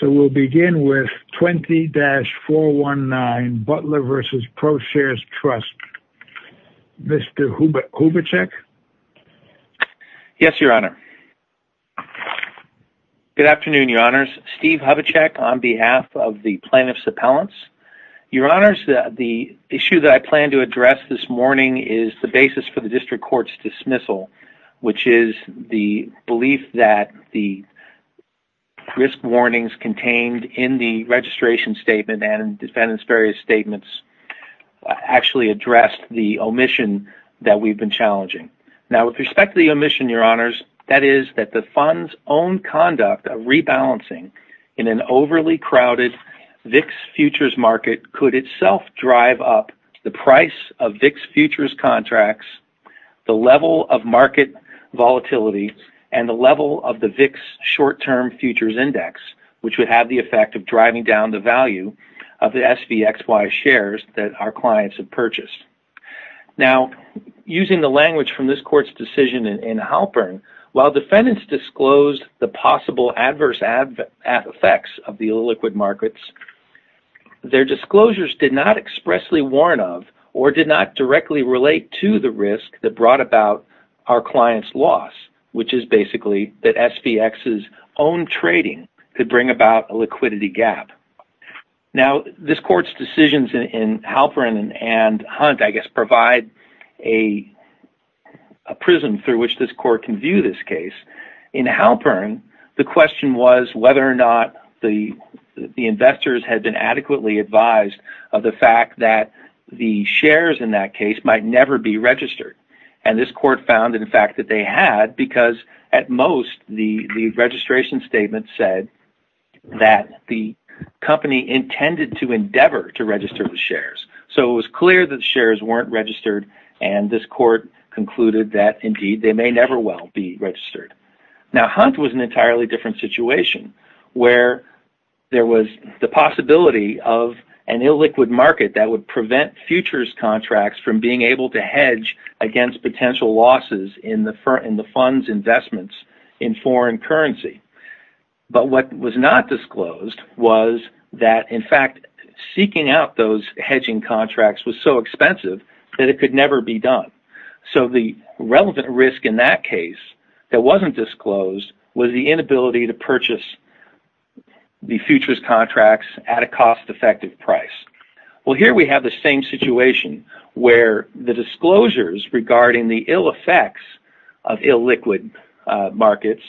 So we'll begin with 20-419 Butler v. ProShares Trust. Mr. Hubachek? Yes, Your Honor. Good afternoon, Your Honors. Steve Hubachek on behalf of the plaintiff's appellants. Your Honors, the issue that I plan to address this morning is the basis for the warnings contained in the registration statement and defendant's various statements actually addressed the omission that we've been challenging. Now, with respect to the omission, Your Honors, that is that the fund's own conduct of rebalancing in an overly crowded VIX futures market could itself drive up the price of VIX futures contracts, the level of market volatility, and the level of the VIX short-term futures index, which would have the effect of driving down the value of the SVXY shares that our clients have purchased. Now, using the language from this court's decision in Halpern, while defendants disclosed the possible adverse effects of the illiquid markets, their disclosures did not expressly warn of or did not directly relate to the risk that brought about our client's loss, which is basically that SVX's own trading could bring about a liquidity gap. Now, this court's decisions in Halpern and Hunt, I guess, provide a prism through which this court can view this case. In Halpern, the question was whether or not the investors had been adequately advised of the fact that the shares in that case might never be registered, and this court found, in fact, that they had because, at most, the registration statement said that the company intended to endeavor to register the shares. So, it was clear that shares weren't registered, and this court concluded that, indeed, they may never well be registered. Now, Hunt was in an entirely different situation where there was the possibility of an against potential losses in the fund's investments in foreign currency, but what was not disclosed was that, in fact, seeking out those hedging contracts was so expensive that it could never be done. So, the relevant risk in that case that wasn't disclosed was the inability to purchase the futures contracts at a cost-effective price. Well, here we have the same situation where the disclosures regarding the ill effects of illiquid markets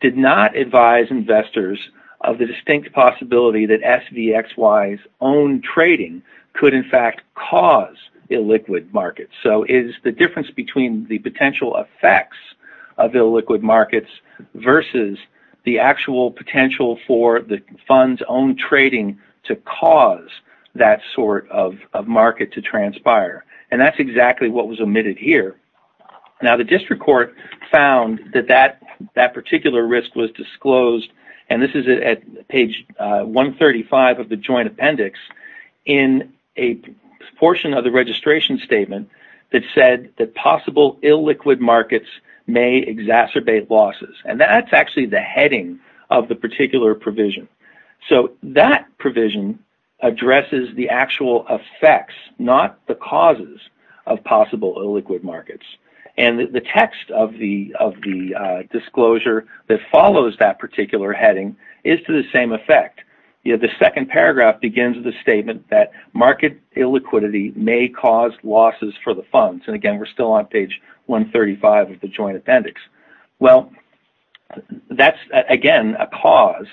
did not advise investors of the distinct possibility that SVXY's own trading could, in fact, cause illiquid markets. So, it's the difference between the potential effects of illiquid markets versus the actual and that's exactly what was omitted here. Now, the district court found that that particular risk was disclosed, and this is at page 135 of the joint appendix, in a portion of the registration statement that said that possible illiquid markets may exacerbate losses, and that's actually the causes of possible illiquid markets, and the text of the disclosure that follows that particular heading is to the same effect. The second paragraph begins with a statement that market illiquidity may cause losses for the funds, and again, we're still on page 135 of the joint appendix. Well, that's, again, a cause.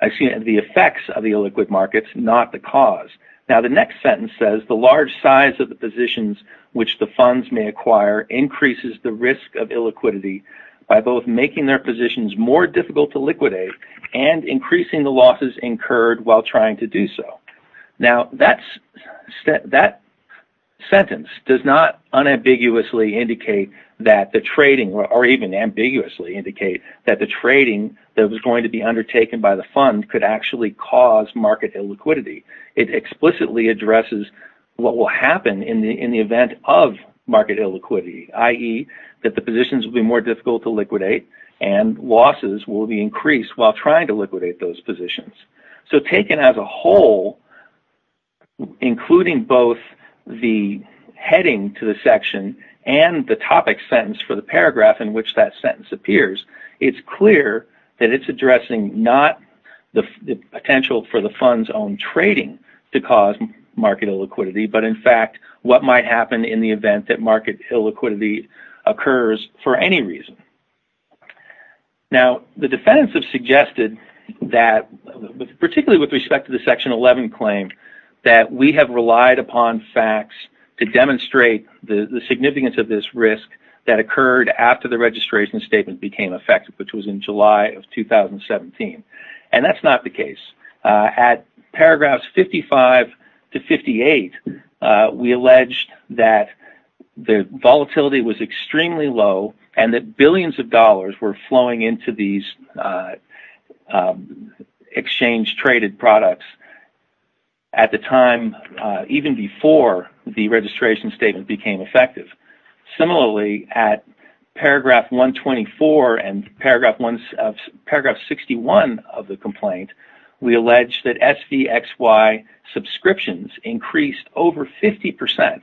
The effects of the illiquid markets, not the cause. Now, the next sentence says the large size of the positions which the funds may acquire increases the risk of illiquidity by both making their positions more difficult to liquidate and increasing the losses incurred while trying to do so. Now, that sentence does not unambiguously indicate that the trading or even ambiguously indicate that the trading that was going to undertaken by the fund could actually cause market illiquidity. It explicitly addresses what will happen in the event of market illiquidity, i.e., that the positions will be more difficult to liquidate and losses will be increased while trying to liquidate those positions. So, taken as a whole, including both the heading to the section and the topic sentence for the paragraph in which that sentence appears, it's clear that it's addressing not the potential for the fund's own trading to cause market illiquidity, but in fact, what might happen in the event that market illiquidity occurs for any reason. Now, the defendants have suggested that particularly with respect to the section 11 claim that we have relied upon facts to demonstrate the significance of this risk that occurred after the registration statement became effective, which was in July of 2017, and that's not the case. At paragraphs 55 to 58, we alleged that the volatility was extremely low and that billions of dollars were flowing into these exchange-traded products at the time, even before the registration statement became effective. Similarly, at paragraph 124 and paragraph 61 of the complaint, we alleged that SVXY subscriptions increased over 50%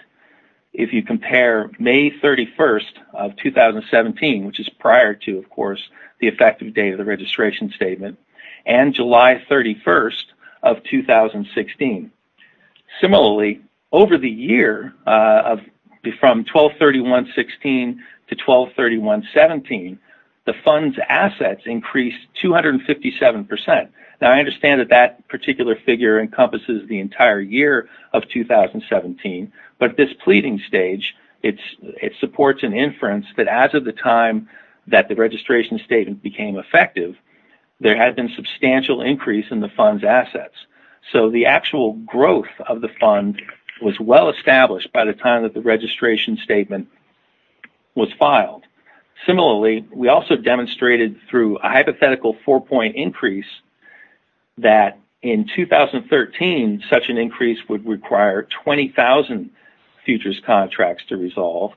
if you compare May 31st of 2017, which is prior to, of course, the effective date of the registration statement, and July 31st of 2016. Similarly, over the year from 12-31-16 to 12-31-17, the fund's assets increased 257%. Now, I understand that that pleading stage, it supports an inference that as of the time that the registration statement became effective, there had been substantial increase in the fund's assets. So, the actual growth of the fund was well established by the time that the registration statement was filed. Similarly, we also demonstrated through a hypothetical four-point increase that in 2013, such an increase would require 20,000 futures contracts to resolve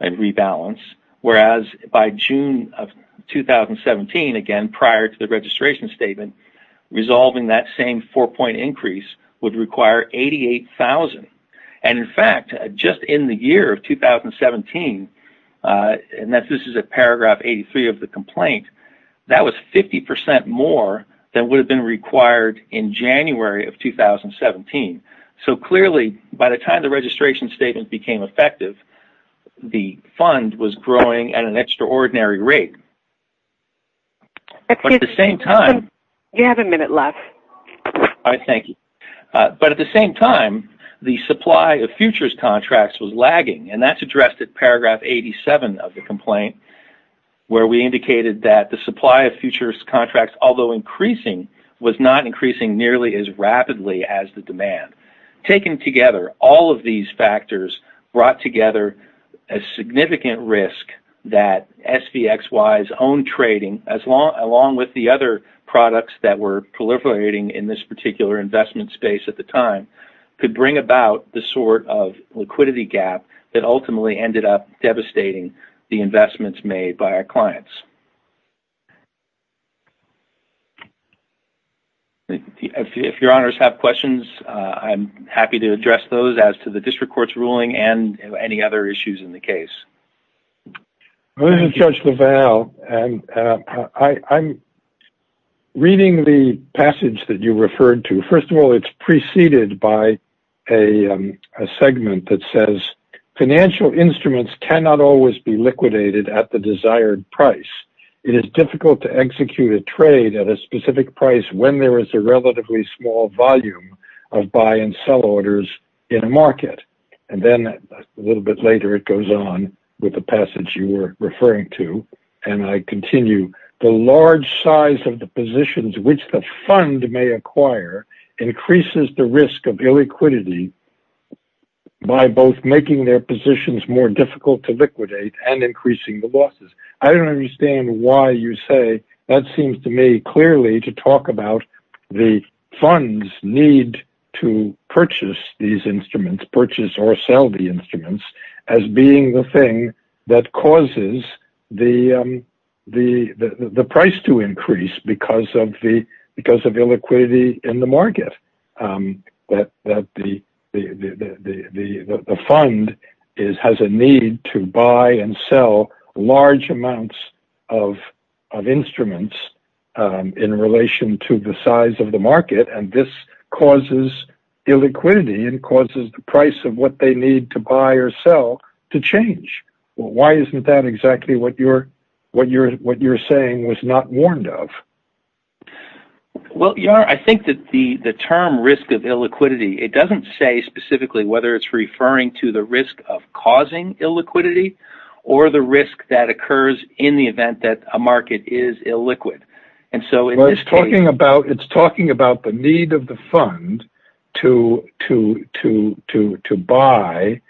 and rebalance, whereas by June of 2017, again, prior to the registration statement, resolving that same four-point increase would require 88,000. And in fact, just in the year of that would have been required in January of 2017. So, clearly, by the time the registration statement became effective, the fund was growing at an extraordinary rate. But at the same time... You have a minute left. All right. Thank you. But at the same time, the supply of futures contracts was lagging, and that's addressed at paragraph 87 of the complaint, where we indicated that the supply of futures contracts, although increasing, was not increasing nearly as rapidly as the demand. Taken together, all of these factors brought together a significant risk that SVXY's own trading, along with the other products that were proliferating in this particular investment space at the time, could bring about the sort of liquidity gap that ultimately ended up devastating the investments made by our clients. If your honors have questions, I'm happy to address those as to the district court's ruling and any other issues in the case. I'm Judge LaValle, and I'm reading the passage that you referred to. First of all, it's preceded by a segment that says, ìFinancial instruments cannot always be liquidated at the desired price. It is difficult to execute a trade at a specific price when there is a relatively small volume of buy and sell orders in a market.î Then, a little bit later, it goes on with the passage you were referring to, and I continue, ìThe large size of the positions which the fund may acquire increases the risk of illiquidity by both making their positions more difficult to liquidate and increasing the losses.î I don't understand why you say that. It seems to me clearly to talk about the funds need to purchase these instruments, purchase or sell the instruments, as being the the price to increase because of illiquidity in the market. The fund has a need to buy and sell large amounts of instruments in relation to the size of the market, and this causes illiquidity and causes the price of what they need to buy or sell to change. Why isn't that exactly what you're saying was not warned of? I think that the term ìrisk of illiquidityî doesn't say specifically whether it's referring to the risk of causing illiquidity or the risk that occurs in the event that a market is illiquid. It's talking about the need of the fund to buy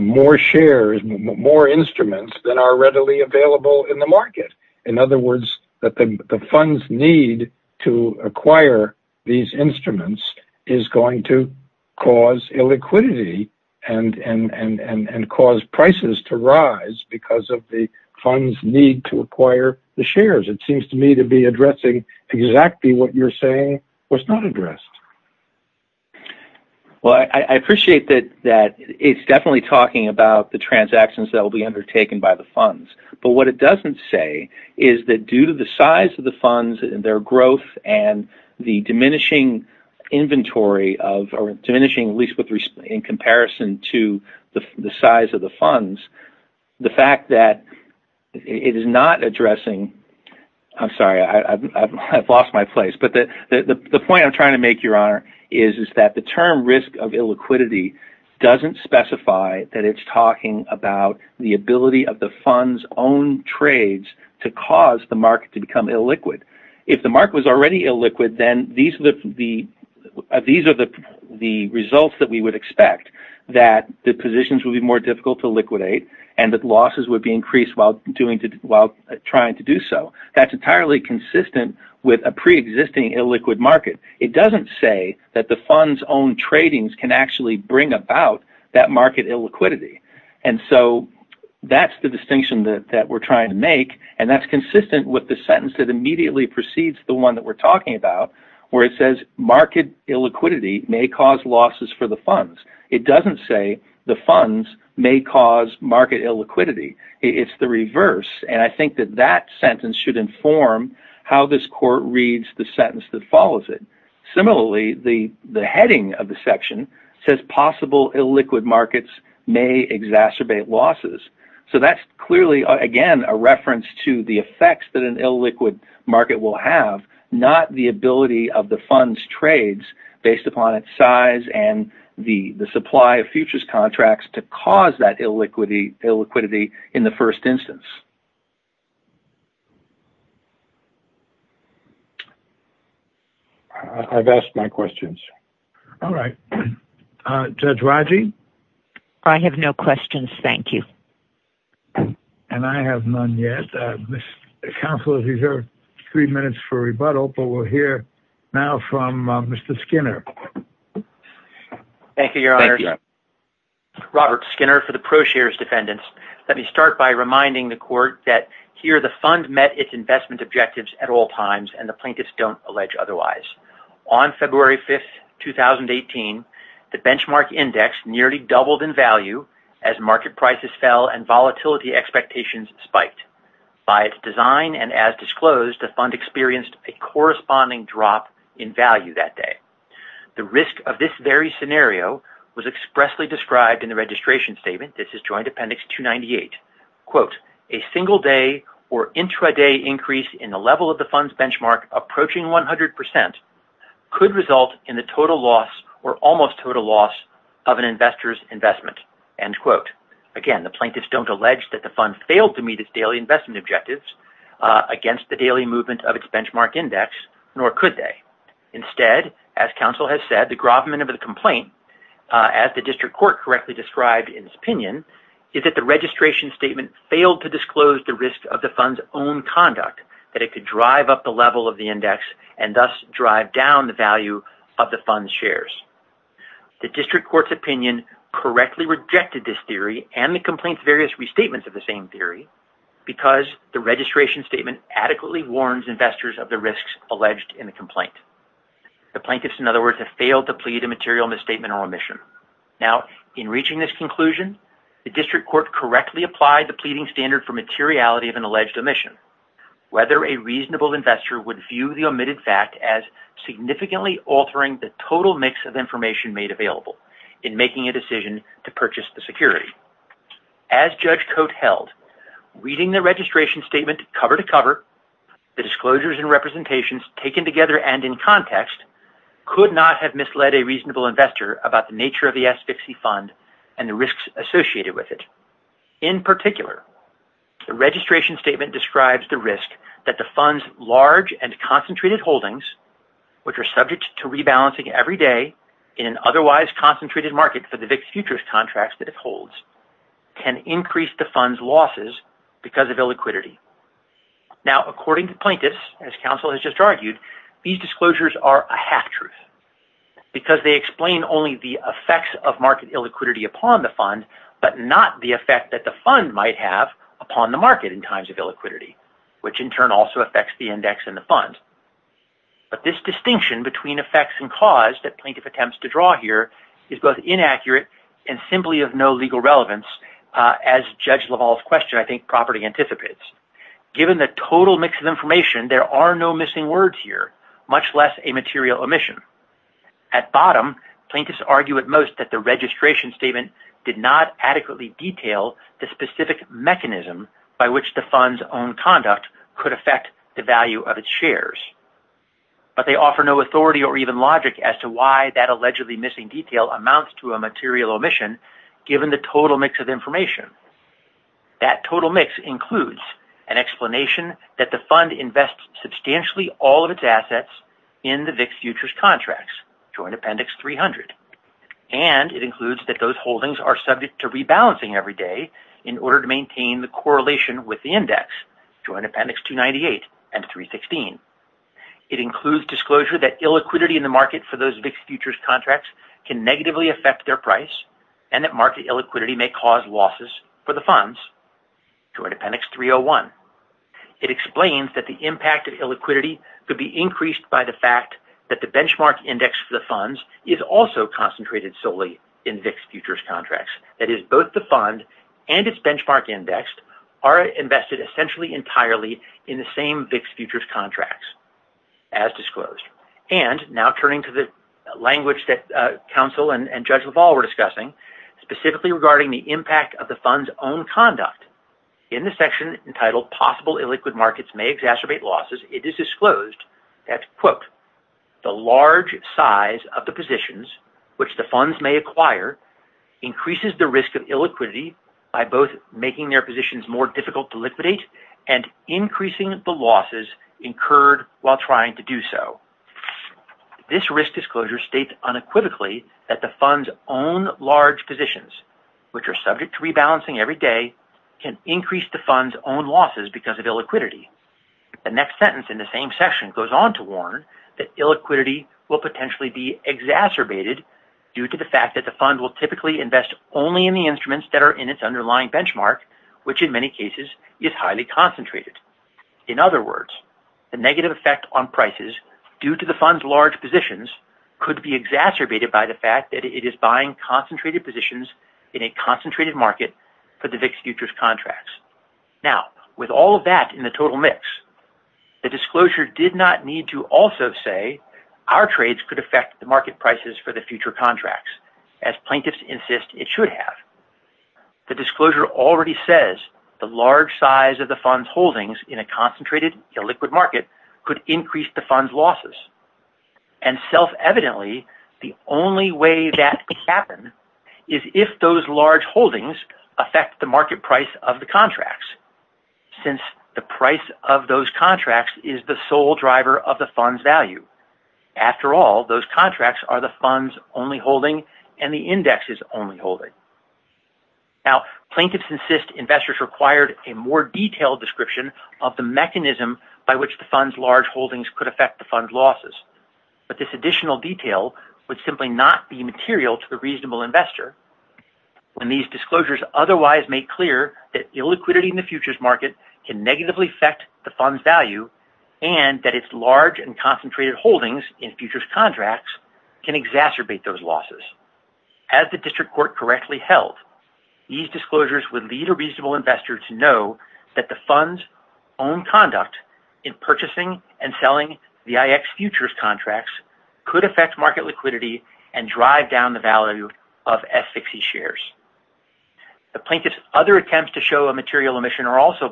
more instruments than are readily available in the market. In other words, that the funds need to acquire these instruments is going to cause illiquidity and cause prices to rise because of the funds need to acquire the shares. It seems to me to be addressing exactly what you're saying was not addressed. Well, I appreciate that it's definitely talking about the transactions that will be undertaken by the funds, but what it doesn't say is that due to the size of the funds and their growth and the diminishing in comparison to the size of the funds, the point I'm trying to make is that the term ìrisk of illiquidityî doesn't specify that it's talking about the ability of the funds own trades to cause the market to become illiquid. If the market was already illiquid, then these are the results that we would expect that the positions will be more difficult to liquidate and that losses would be increased while trying to do so. That's entirely consistent with a pre-existing illiquid market. It doesn't say that the funds own trading can actually bring about that market illiquidity and so that's the distinction that we're trying to make and that's consistent with the sentence that immediately precedes the one that we're talking about where it says market illiquidity may cause losses for the funds. It doesn't say the funds may cause market illiquidity. It's the reverse and I think that that sentence should inform how this court reads the sentence that follows it. Similarly, the heading of the section says possible illiquid markets may exacerbate losses. That's clearly, again, a reference to the effects that an illiquid market will have, not the ability of the funds trades based upon its size and the supply of futures contracts to cause that illiquidity in the first instance. I've asked my questions. All right. Judge Raji? I have no questions, thank you. And I have none yet. Counselor, these are three minutes for rebuttal but we'll hear now from Mr. Skinner. Thank you, your honor. Robert Skinner for the brochure's defendants. Let me start by reminding the court that here the fund met its investment objectives at all times and the plaintiffs don't allege otherwise. On February 5th, 2018, the benchmark index nearly doubled in value as market prices fell and volatility expectations spiked. By its design and as disclosed, the fund experienced a corresponding drop in value that day. The risk of this very statement, this is joint appendix 298, quote, a single day or intraday increase in the level of the fund's benchmark approaching 100% could result in the total loss or almost total loss of an investor's investment, end quote. Again, the plaintiffs don't allege that the fund failed to meet its daily investment objectives against the daily movement of its benchmark index, nor could they. Instead, as counsel has said, the grovement of the complaint, as the district court correctly described in this opinion, is that the registration statement failed to disclose the risk of the fund's own conduct that it could drive up the level of the index and thus drive down the value of the fund's shares. The district court's opinion correctly rejected this theory and the complaint's various restatements of the same theory because the registration statement adequately warns investors of the risks alleged in the omission. Now, in reaching this conclusion, the district court correctly applied the pleading standard for materiality of an alleged omission, whether a reasonable investor would view the omitted fact as significantly altering the total mix of information made available in making a decision to purchase the security. As Judge Cote held, reading the registration statement cover to cover, the disclosures and representations taken together and in context could not have misled a nature of the S-VIXI fund and the risks associated with it. In particular, the registration statement describes the risk that the fund's large and concentrated holdings, which are subject to rebalancing every day in an otherwise concentrated market for the VIX futures contracts that it holds, can increase the fund's losses because of illiquidity. Now, according to plaintiffs, as counsel has just argued, these disclosures are a half-truth because they explain only the effects of market illiquidity upon the fund, but not the effect that the fund might have upon the market in times of illiquidity, which in turn also affects the index in the fund. But this distinction between effects and cause that plaintiff attempts to draw here is both inaccurate and simply of no legal relevance. As Judge LaValle's question, property anticipates, given the total mix of information, there are no missing words here, much less a material omission. At bottom, plaintiffs argue at most that the registration statement did not adequately detail the specific mechanism by which the fund's own conduct could affect the value of its shares, but they offer no authority or even logic as to why that allegedly missing detail amounts to a material omission given the total mix of information. That total mix includes an explanation that the fund invests substantially all of its assets in the VIX futures contracts, Joint Appendix 300, and it includes that those holdings are subject to rebalancing every day in order to maintain the correlation with the index, Joint Appendix 298 and 316. It includes disclosure that illiquidity in the market for those VIX futures contracts can negatively affect their price and that market illiquidity may cause losses for the funds, Joint Appendix 301. It explains that the impact of illiquidity could be increased by the fact that the benchmark index for the funds is also concentrated solely in VIX futures contracts. That is, both the fund and its benchmark index are invested essentially entirely in the same VIX futures contracts, as disclosed. And now turning to the language that counsel and Judge LaValle were discussing, specifically regarding the impact of the fund's own conduct, in the section entitled possible illiquid markets may exacerbate losses, it is disclosed that, quote, the large size of the positions which the funds may acquire increases the risk of illiquidity by both making their positions more difficult to liquidate and increasing the losses incurred while trying to do so. This risk disclosure states unequivocally that the fund's own large positions, which are subject to rebalancing every day, can increase the fund's own losses because of illiquidity. The next sentence in the same section goes on to warn that illiquidity will potentially be exacerbated due to the fact that the fund will typically invest only in the instruments that are its underlying benchmark, which in many cases is highly concentrated. In other words, the negative effect on prices due to the fund's large positions could be exacerbated by the fact that it is buying concentrated positions in a concentrated market for the VIX futures contracts. Now, with all of that in the total mix, the disclosure did not need to also say our trades could affect the market contracts, as plaintiffs insist it should have. The disclosure already says the large size of the fund's holdings in a concentrated illiquid market could increase the fund's losses, and self-evidently the only way that could happen is if those large holdings affect the market price of the contracts, since the price of those contracts is the sole driver of the fund's value. After all, those contracts are the fund's only holding and the index's only holding. Now, plaintiffs insist investors required a more detailed description of the mechanism by which the fund's large holdings could affect the fund's losses, but this additional detail would simply not be material to the reasonable investor when these disclosures otherwise make clear that illiquidity in the futures market can negatively affect the fund's value and that its large and large holdings in futures contracts can exacerbate those losses. As the district court correctly held, these disclosures would lead a reasonable investor to know that the fund's own conduct in purchasing and selling the VIX futures contracts could affect market liquidity and drive down the value of S60 shares. The plaintiff's other attempts to show a material omission are also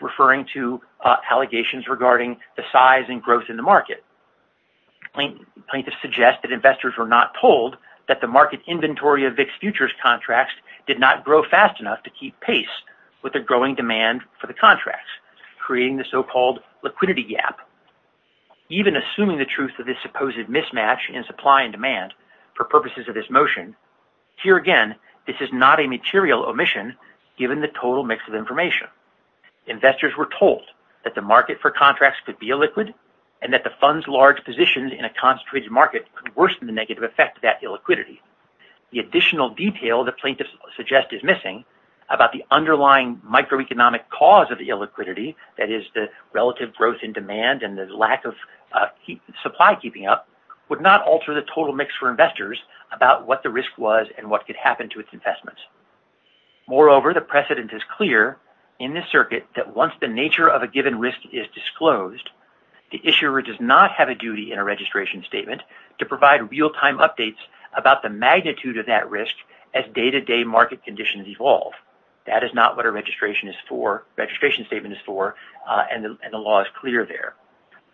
referring to allegations regarding the size and growth in the market. Plaintiffs suggest that investors were not told that the market inventory of VIX futures contracts did not grow fast enough to keep pace with the growing demand for the contracts, creating the so-called liquidity gap. Even assuming the truth of this supposed mismatch in supply and demand for purposes of this motion, here again this is not a material omission given the total mix of information. Investors were told that the market for contracts could be illiquid and that the fund's large positions in a concentrated market could worsen the negative effect of that illiquidity. The additional detail the plaintiffs suggest is missing about the underlying microeconomic cause of the illiquidity, that is the relative growth in demand and the lack of supply keeping up, would not alter the total mix for investors about what the risk was and what could happen to its investments. Moreover, the precedent is clear in this circuit that once the nature of a given risk is disclosed, the issuer does not have a duty in a registration statement to provide real-time updates about the magnitude of that risk as day-to-day market conditions evolve. That is not what a registration is for, registration statement is for, and the law is clear there.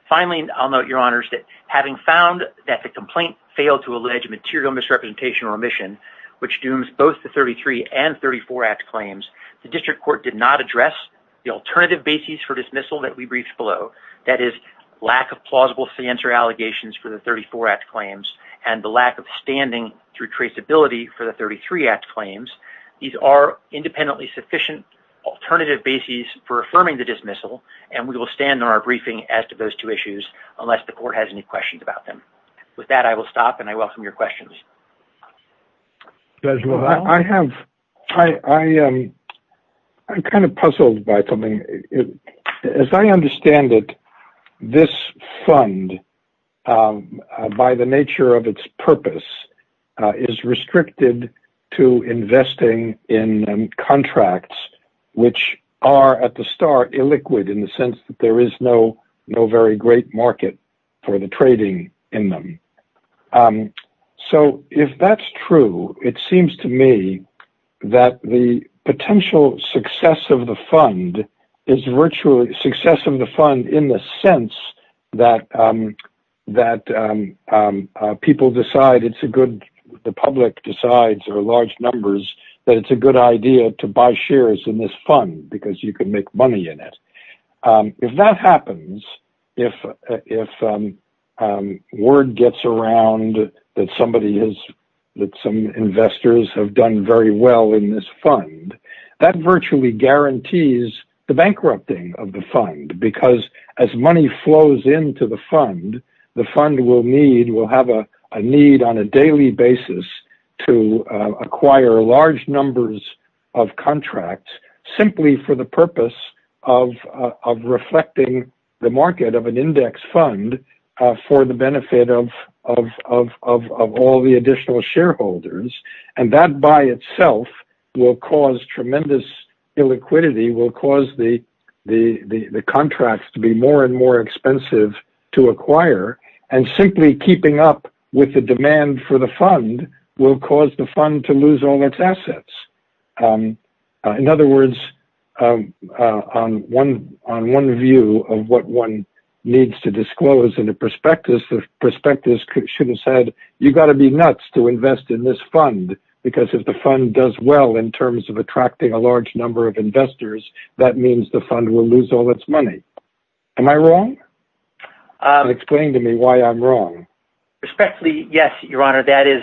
Finally, I'll note, Your Honors, that having found that the complaint failed to allege material misrepresentation or omission, which dooms both the 33 and 34 Act claims, the District Court did not address the alternative basis for dismissal that we briefed below, that is lack of plausible sanctuary allegations for the 34 Act claims and the lack of standing through traceability for the 33 Act claims. These are independently sufficient alternative basis for affirming the dismissal and we will stand on our questions about them. With that, I will stop and I welcome your questions. I'm kind of puzzled by something. As I understand it, this fund, by the nature of its purpose, is restricted to investing in contracts which are at the start illiquid in the sense that there is no very great market for the trading in them. If that's true, it seems to me that the potential success of the fund is virtually the success of the fund in the sense that the public decides or large numbers that it's a good idea to buy shares in this fund because you can make money in it. If that happens, if word gets around that some investors have done very well in this fund, that virtually guarantees the bankrupting of the fund because as money flows into the fund, the fund will have a need on a daily basis to acquire large numbers of contracts simply for the purpose of reflecting the market of an index fund for the benefit of all the additional shareholders and that by itself will cause tremendous illiquidity, will cause the contracts to be more and more expensive to acquire and simply keeping up with the demand for the fund will cause the fund to lose all its assets. In other words, on one view of what one needs to disclose in the prospectus, the prospectus should have said, you got to be nuts to invest in this fund because if the fund does well in terms of attracting a large number of investors, that means the fund will lose all its money. Am I wrong? Explain to me why I'm wrong. Respectfully, yes, your honor, that is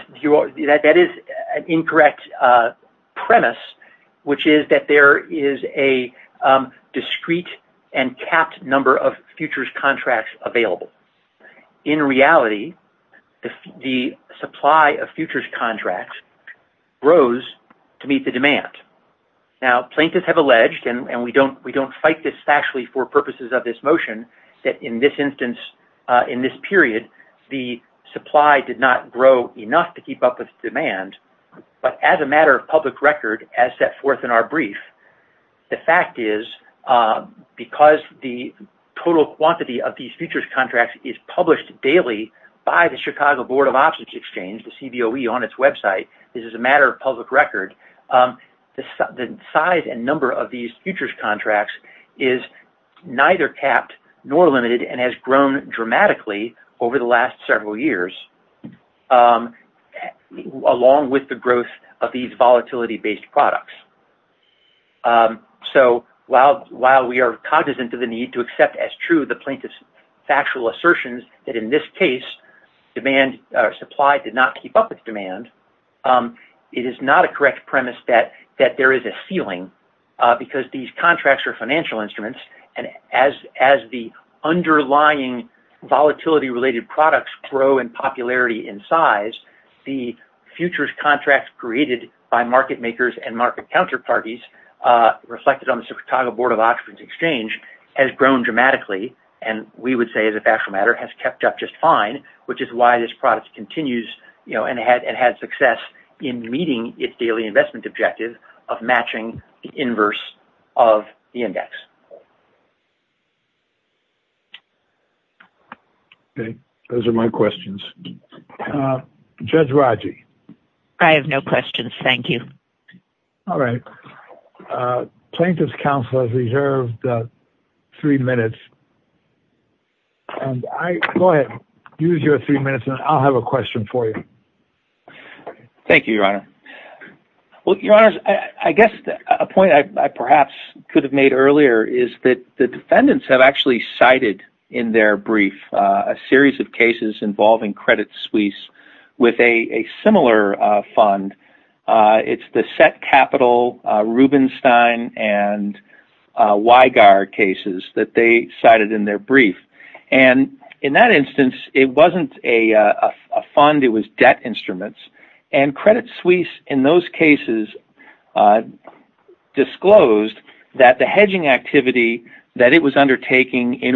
an incorrect premise, which is that there is a discrete and capped number of futures contracts available. In reality, the supply of futures contracts grows to meet the demand. Now, plaintiffs have alleged, and we don't fight this factually for purposes of this motion, that in this instance, in this period, the supply did not grow enough to keep up with demand, but as a matter of public record, as set forth in our brief, the fact is because the total quantity of these futures contracts is published daily by the Chicago Board of Options Exchange, the CBOE on its website, this is a matter of public record, the size and number of these futures contracts is neither capped nor limited and has grown dramatically over the last several years, along with the growth of these volatility-based products. So, while we are cognizant of the need to accept as true the plaintiff's factual assertions that in this case, supply did not keep up with demand, it is not a correct premise that there is a ceiling because these contracts are financial instruments, and as the underlying volatility related products grow in popularity and size, the futures contracts created by market makers and market counterparties reflected on the Chicago Board of Options Exchange has grown dramatically, and we would say, as a factual matter, has kept up just fine, which is why this product continues and has success in meeting its daily investment objective of matching the inverse of the index. Okay. Those are my questions. Judge Raji. I have no questions. Thank you. All right. Plaintiff's counsel has reserved three minutes. Go ahead. Use your three minutes, and I'll have a question for you. Thank you, Your Honor. Well, Your Honors, I guess a point I perhaps could have made earlier is that the defendants have actually cited in their brief a series of cases involving Credit Suisse with a similar fund. It's the Set Capital, Rubenstein, and Weigard cases that they cited in their brief, and in that instance, it wasn't a fund. It was debt instruments, and Credit Suisse in those cases disclosed that the hedging activity that it was undertaking in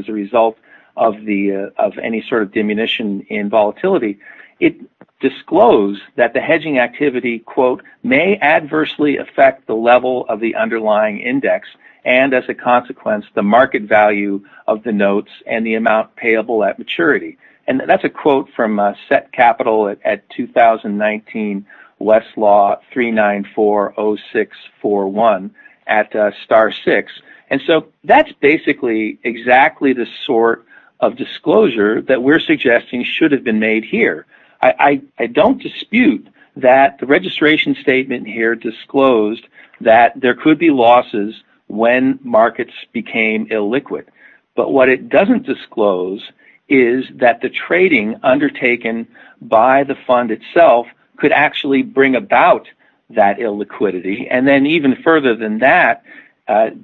as a result of any sort of diminution in volatility, it disclosed that the hedging activity may adversely affect the level of the underlying index and, as a consequence, the market value of the notes and the amount payable at maturity. That's a quote from Set Capital. I don't dispute that the registration statement here disclosed that there could be losses when markets became illiquid, but what it doesn't disclose is that the trading undertaken by the fund itself could actually bring about that illiquidity and then even further than that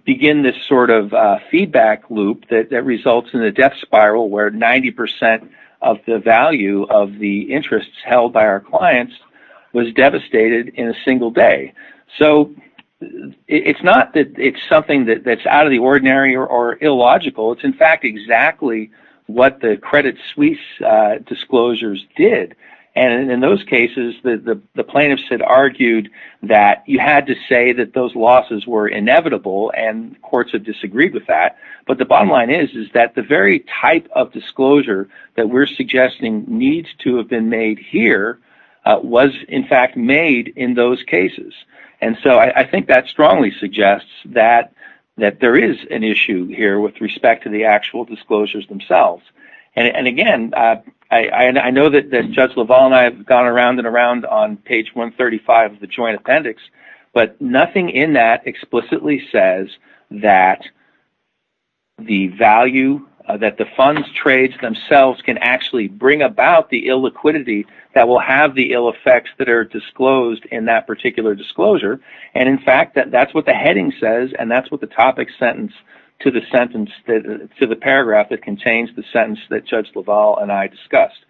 begin this sort of feedback loop that results in a death spiral where 90% of the value of the interest held by our clients was devastated in a single day. It's not that it's something that's out of the ordinary or illogical. It's in fact exactly what the Credit Suisse disclosures did, and in those cases, the plaintiffs had argued that you had to say that those losses were inevitable and courts had disagreed with that, but the bottom line is that the very type of disclosure that we're suggesting needs to have been made here was in fact made in those cases, and so I think that strongly suggests that there is an issue here with respect to the actual disclosures themselves. Again, I know that Judge LaValle and I have gone around and around on page 135 of the that the fund's trades themselves can actually bring about the illiquidity that will have the ill effects that are disclosed in that particular disclosure, and in fact, that's what the heading says and that's what the topic sentence to the paragraph that contains the sentence that Judge LaValle and I discussed.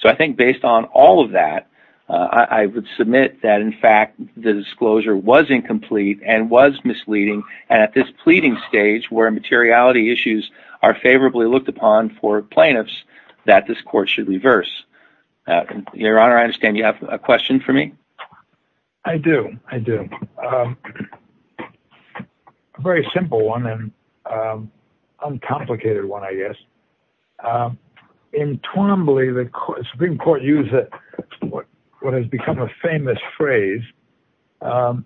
So I think based on all of that, I would submit that in fact, the disclosure was incomplete and was misleading, and at this pleading stage, where materiality issues are favorably looked upon for plaintiffs, that this court should reverse. Your Honor, I understand you have a question for me? I do, I do. A very simple one and uncomplicated one, I guess. In Twombly, the Supreme Court used what has become a famous phrase, um,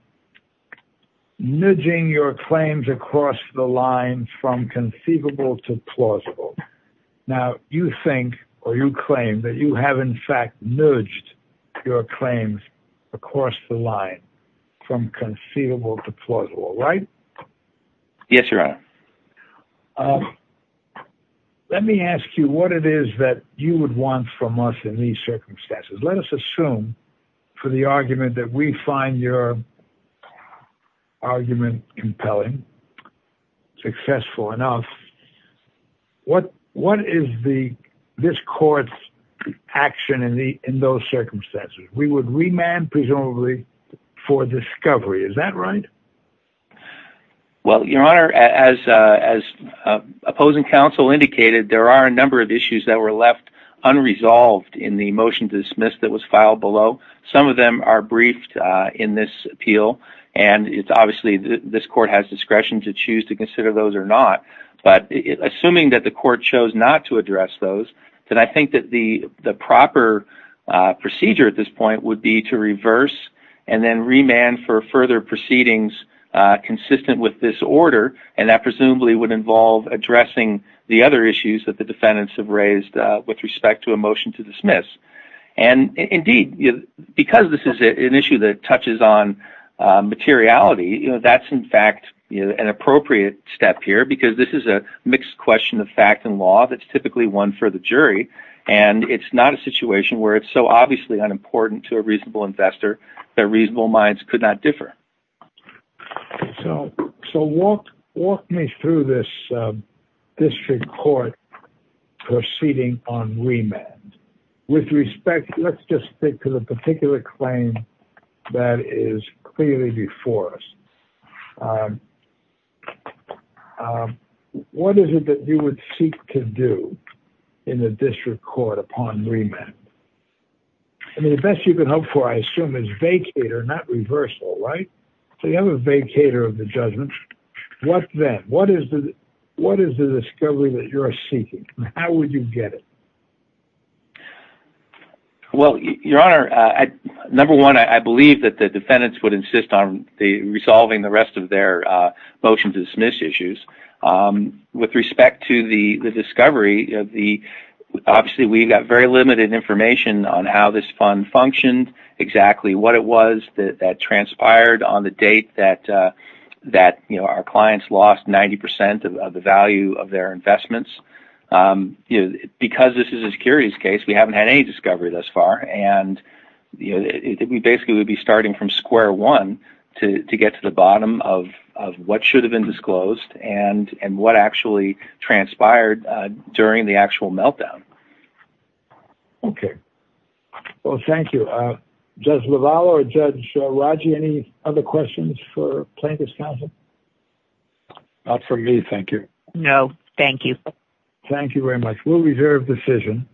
nudging your claims across the line from conceivable to plausible. Now, you think or you claim that you have in fact nudged your claims across the line from conceivable to plausible, right? Yes, Your Honor. Let me ask you what it is that you would want from us in these circumstances. Let us assume for the argument that we find your argument compelling, successful enough, what is this court's action in those circumstances? We would remand presumably for discovery, is that right? Well, Your Honor, as opposing counsel indicated, there are a number of issues that were left unresolved in the motion to dismiss that was briefed in this appeal. Obviously, this court has discretion to choose to consider those or not, but assuming that the court chose not to address those, then I think that the proper procedure at this point would be to reverse and then remand for further proceedings consistent with this order, and that presumably would involve addressing the other issues that the defendants have raised with respect to a motion to dismiss. Indeed, because this is an issue that touches on materiality, that's in fact an appropriate step here because this is a mixed question of fact and law that's typically one for the jury, and it's not a situation where it's so obviously unimportant to a reasonable investor that reasonable minds could not differ. So walk me through this court proceeding on remand. With respect, let's just stick to the particular claim that is clearly before us. What is it that you would seek to do in the district court upon remand? I mean, the best you can hope for, I assume, is vacater, not reversal, right? So you have a vacater of the judgment. What then? What is the discovery that you're seeking? How would you get it? Well, your honor, number one, I believe that the defendants would insist on resolving the rest of their motion to dismiss issues. With respect to the discovery, obviously we've got very limited information on how this fund functioned, exactly what it was that transpired on the date that our clients lost 90% of the value of their investments. Because this is a securities case, we haven't had any discovery thus far, and basically we'd be starting from square one to get to the bottom of what should have been disclosed and what actually transpired during the actual meltdown. Okay. Well, thank you. Judge LaValle or Judge Raji, any other questions for plaintiff's counsel? Not for me, thank you. No, thank you. Thank you very much. We'll reserve decision.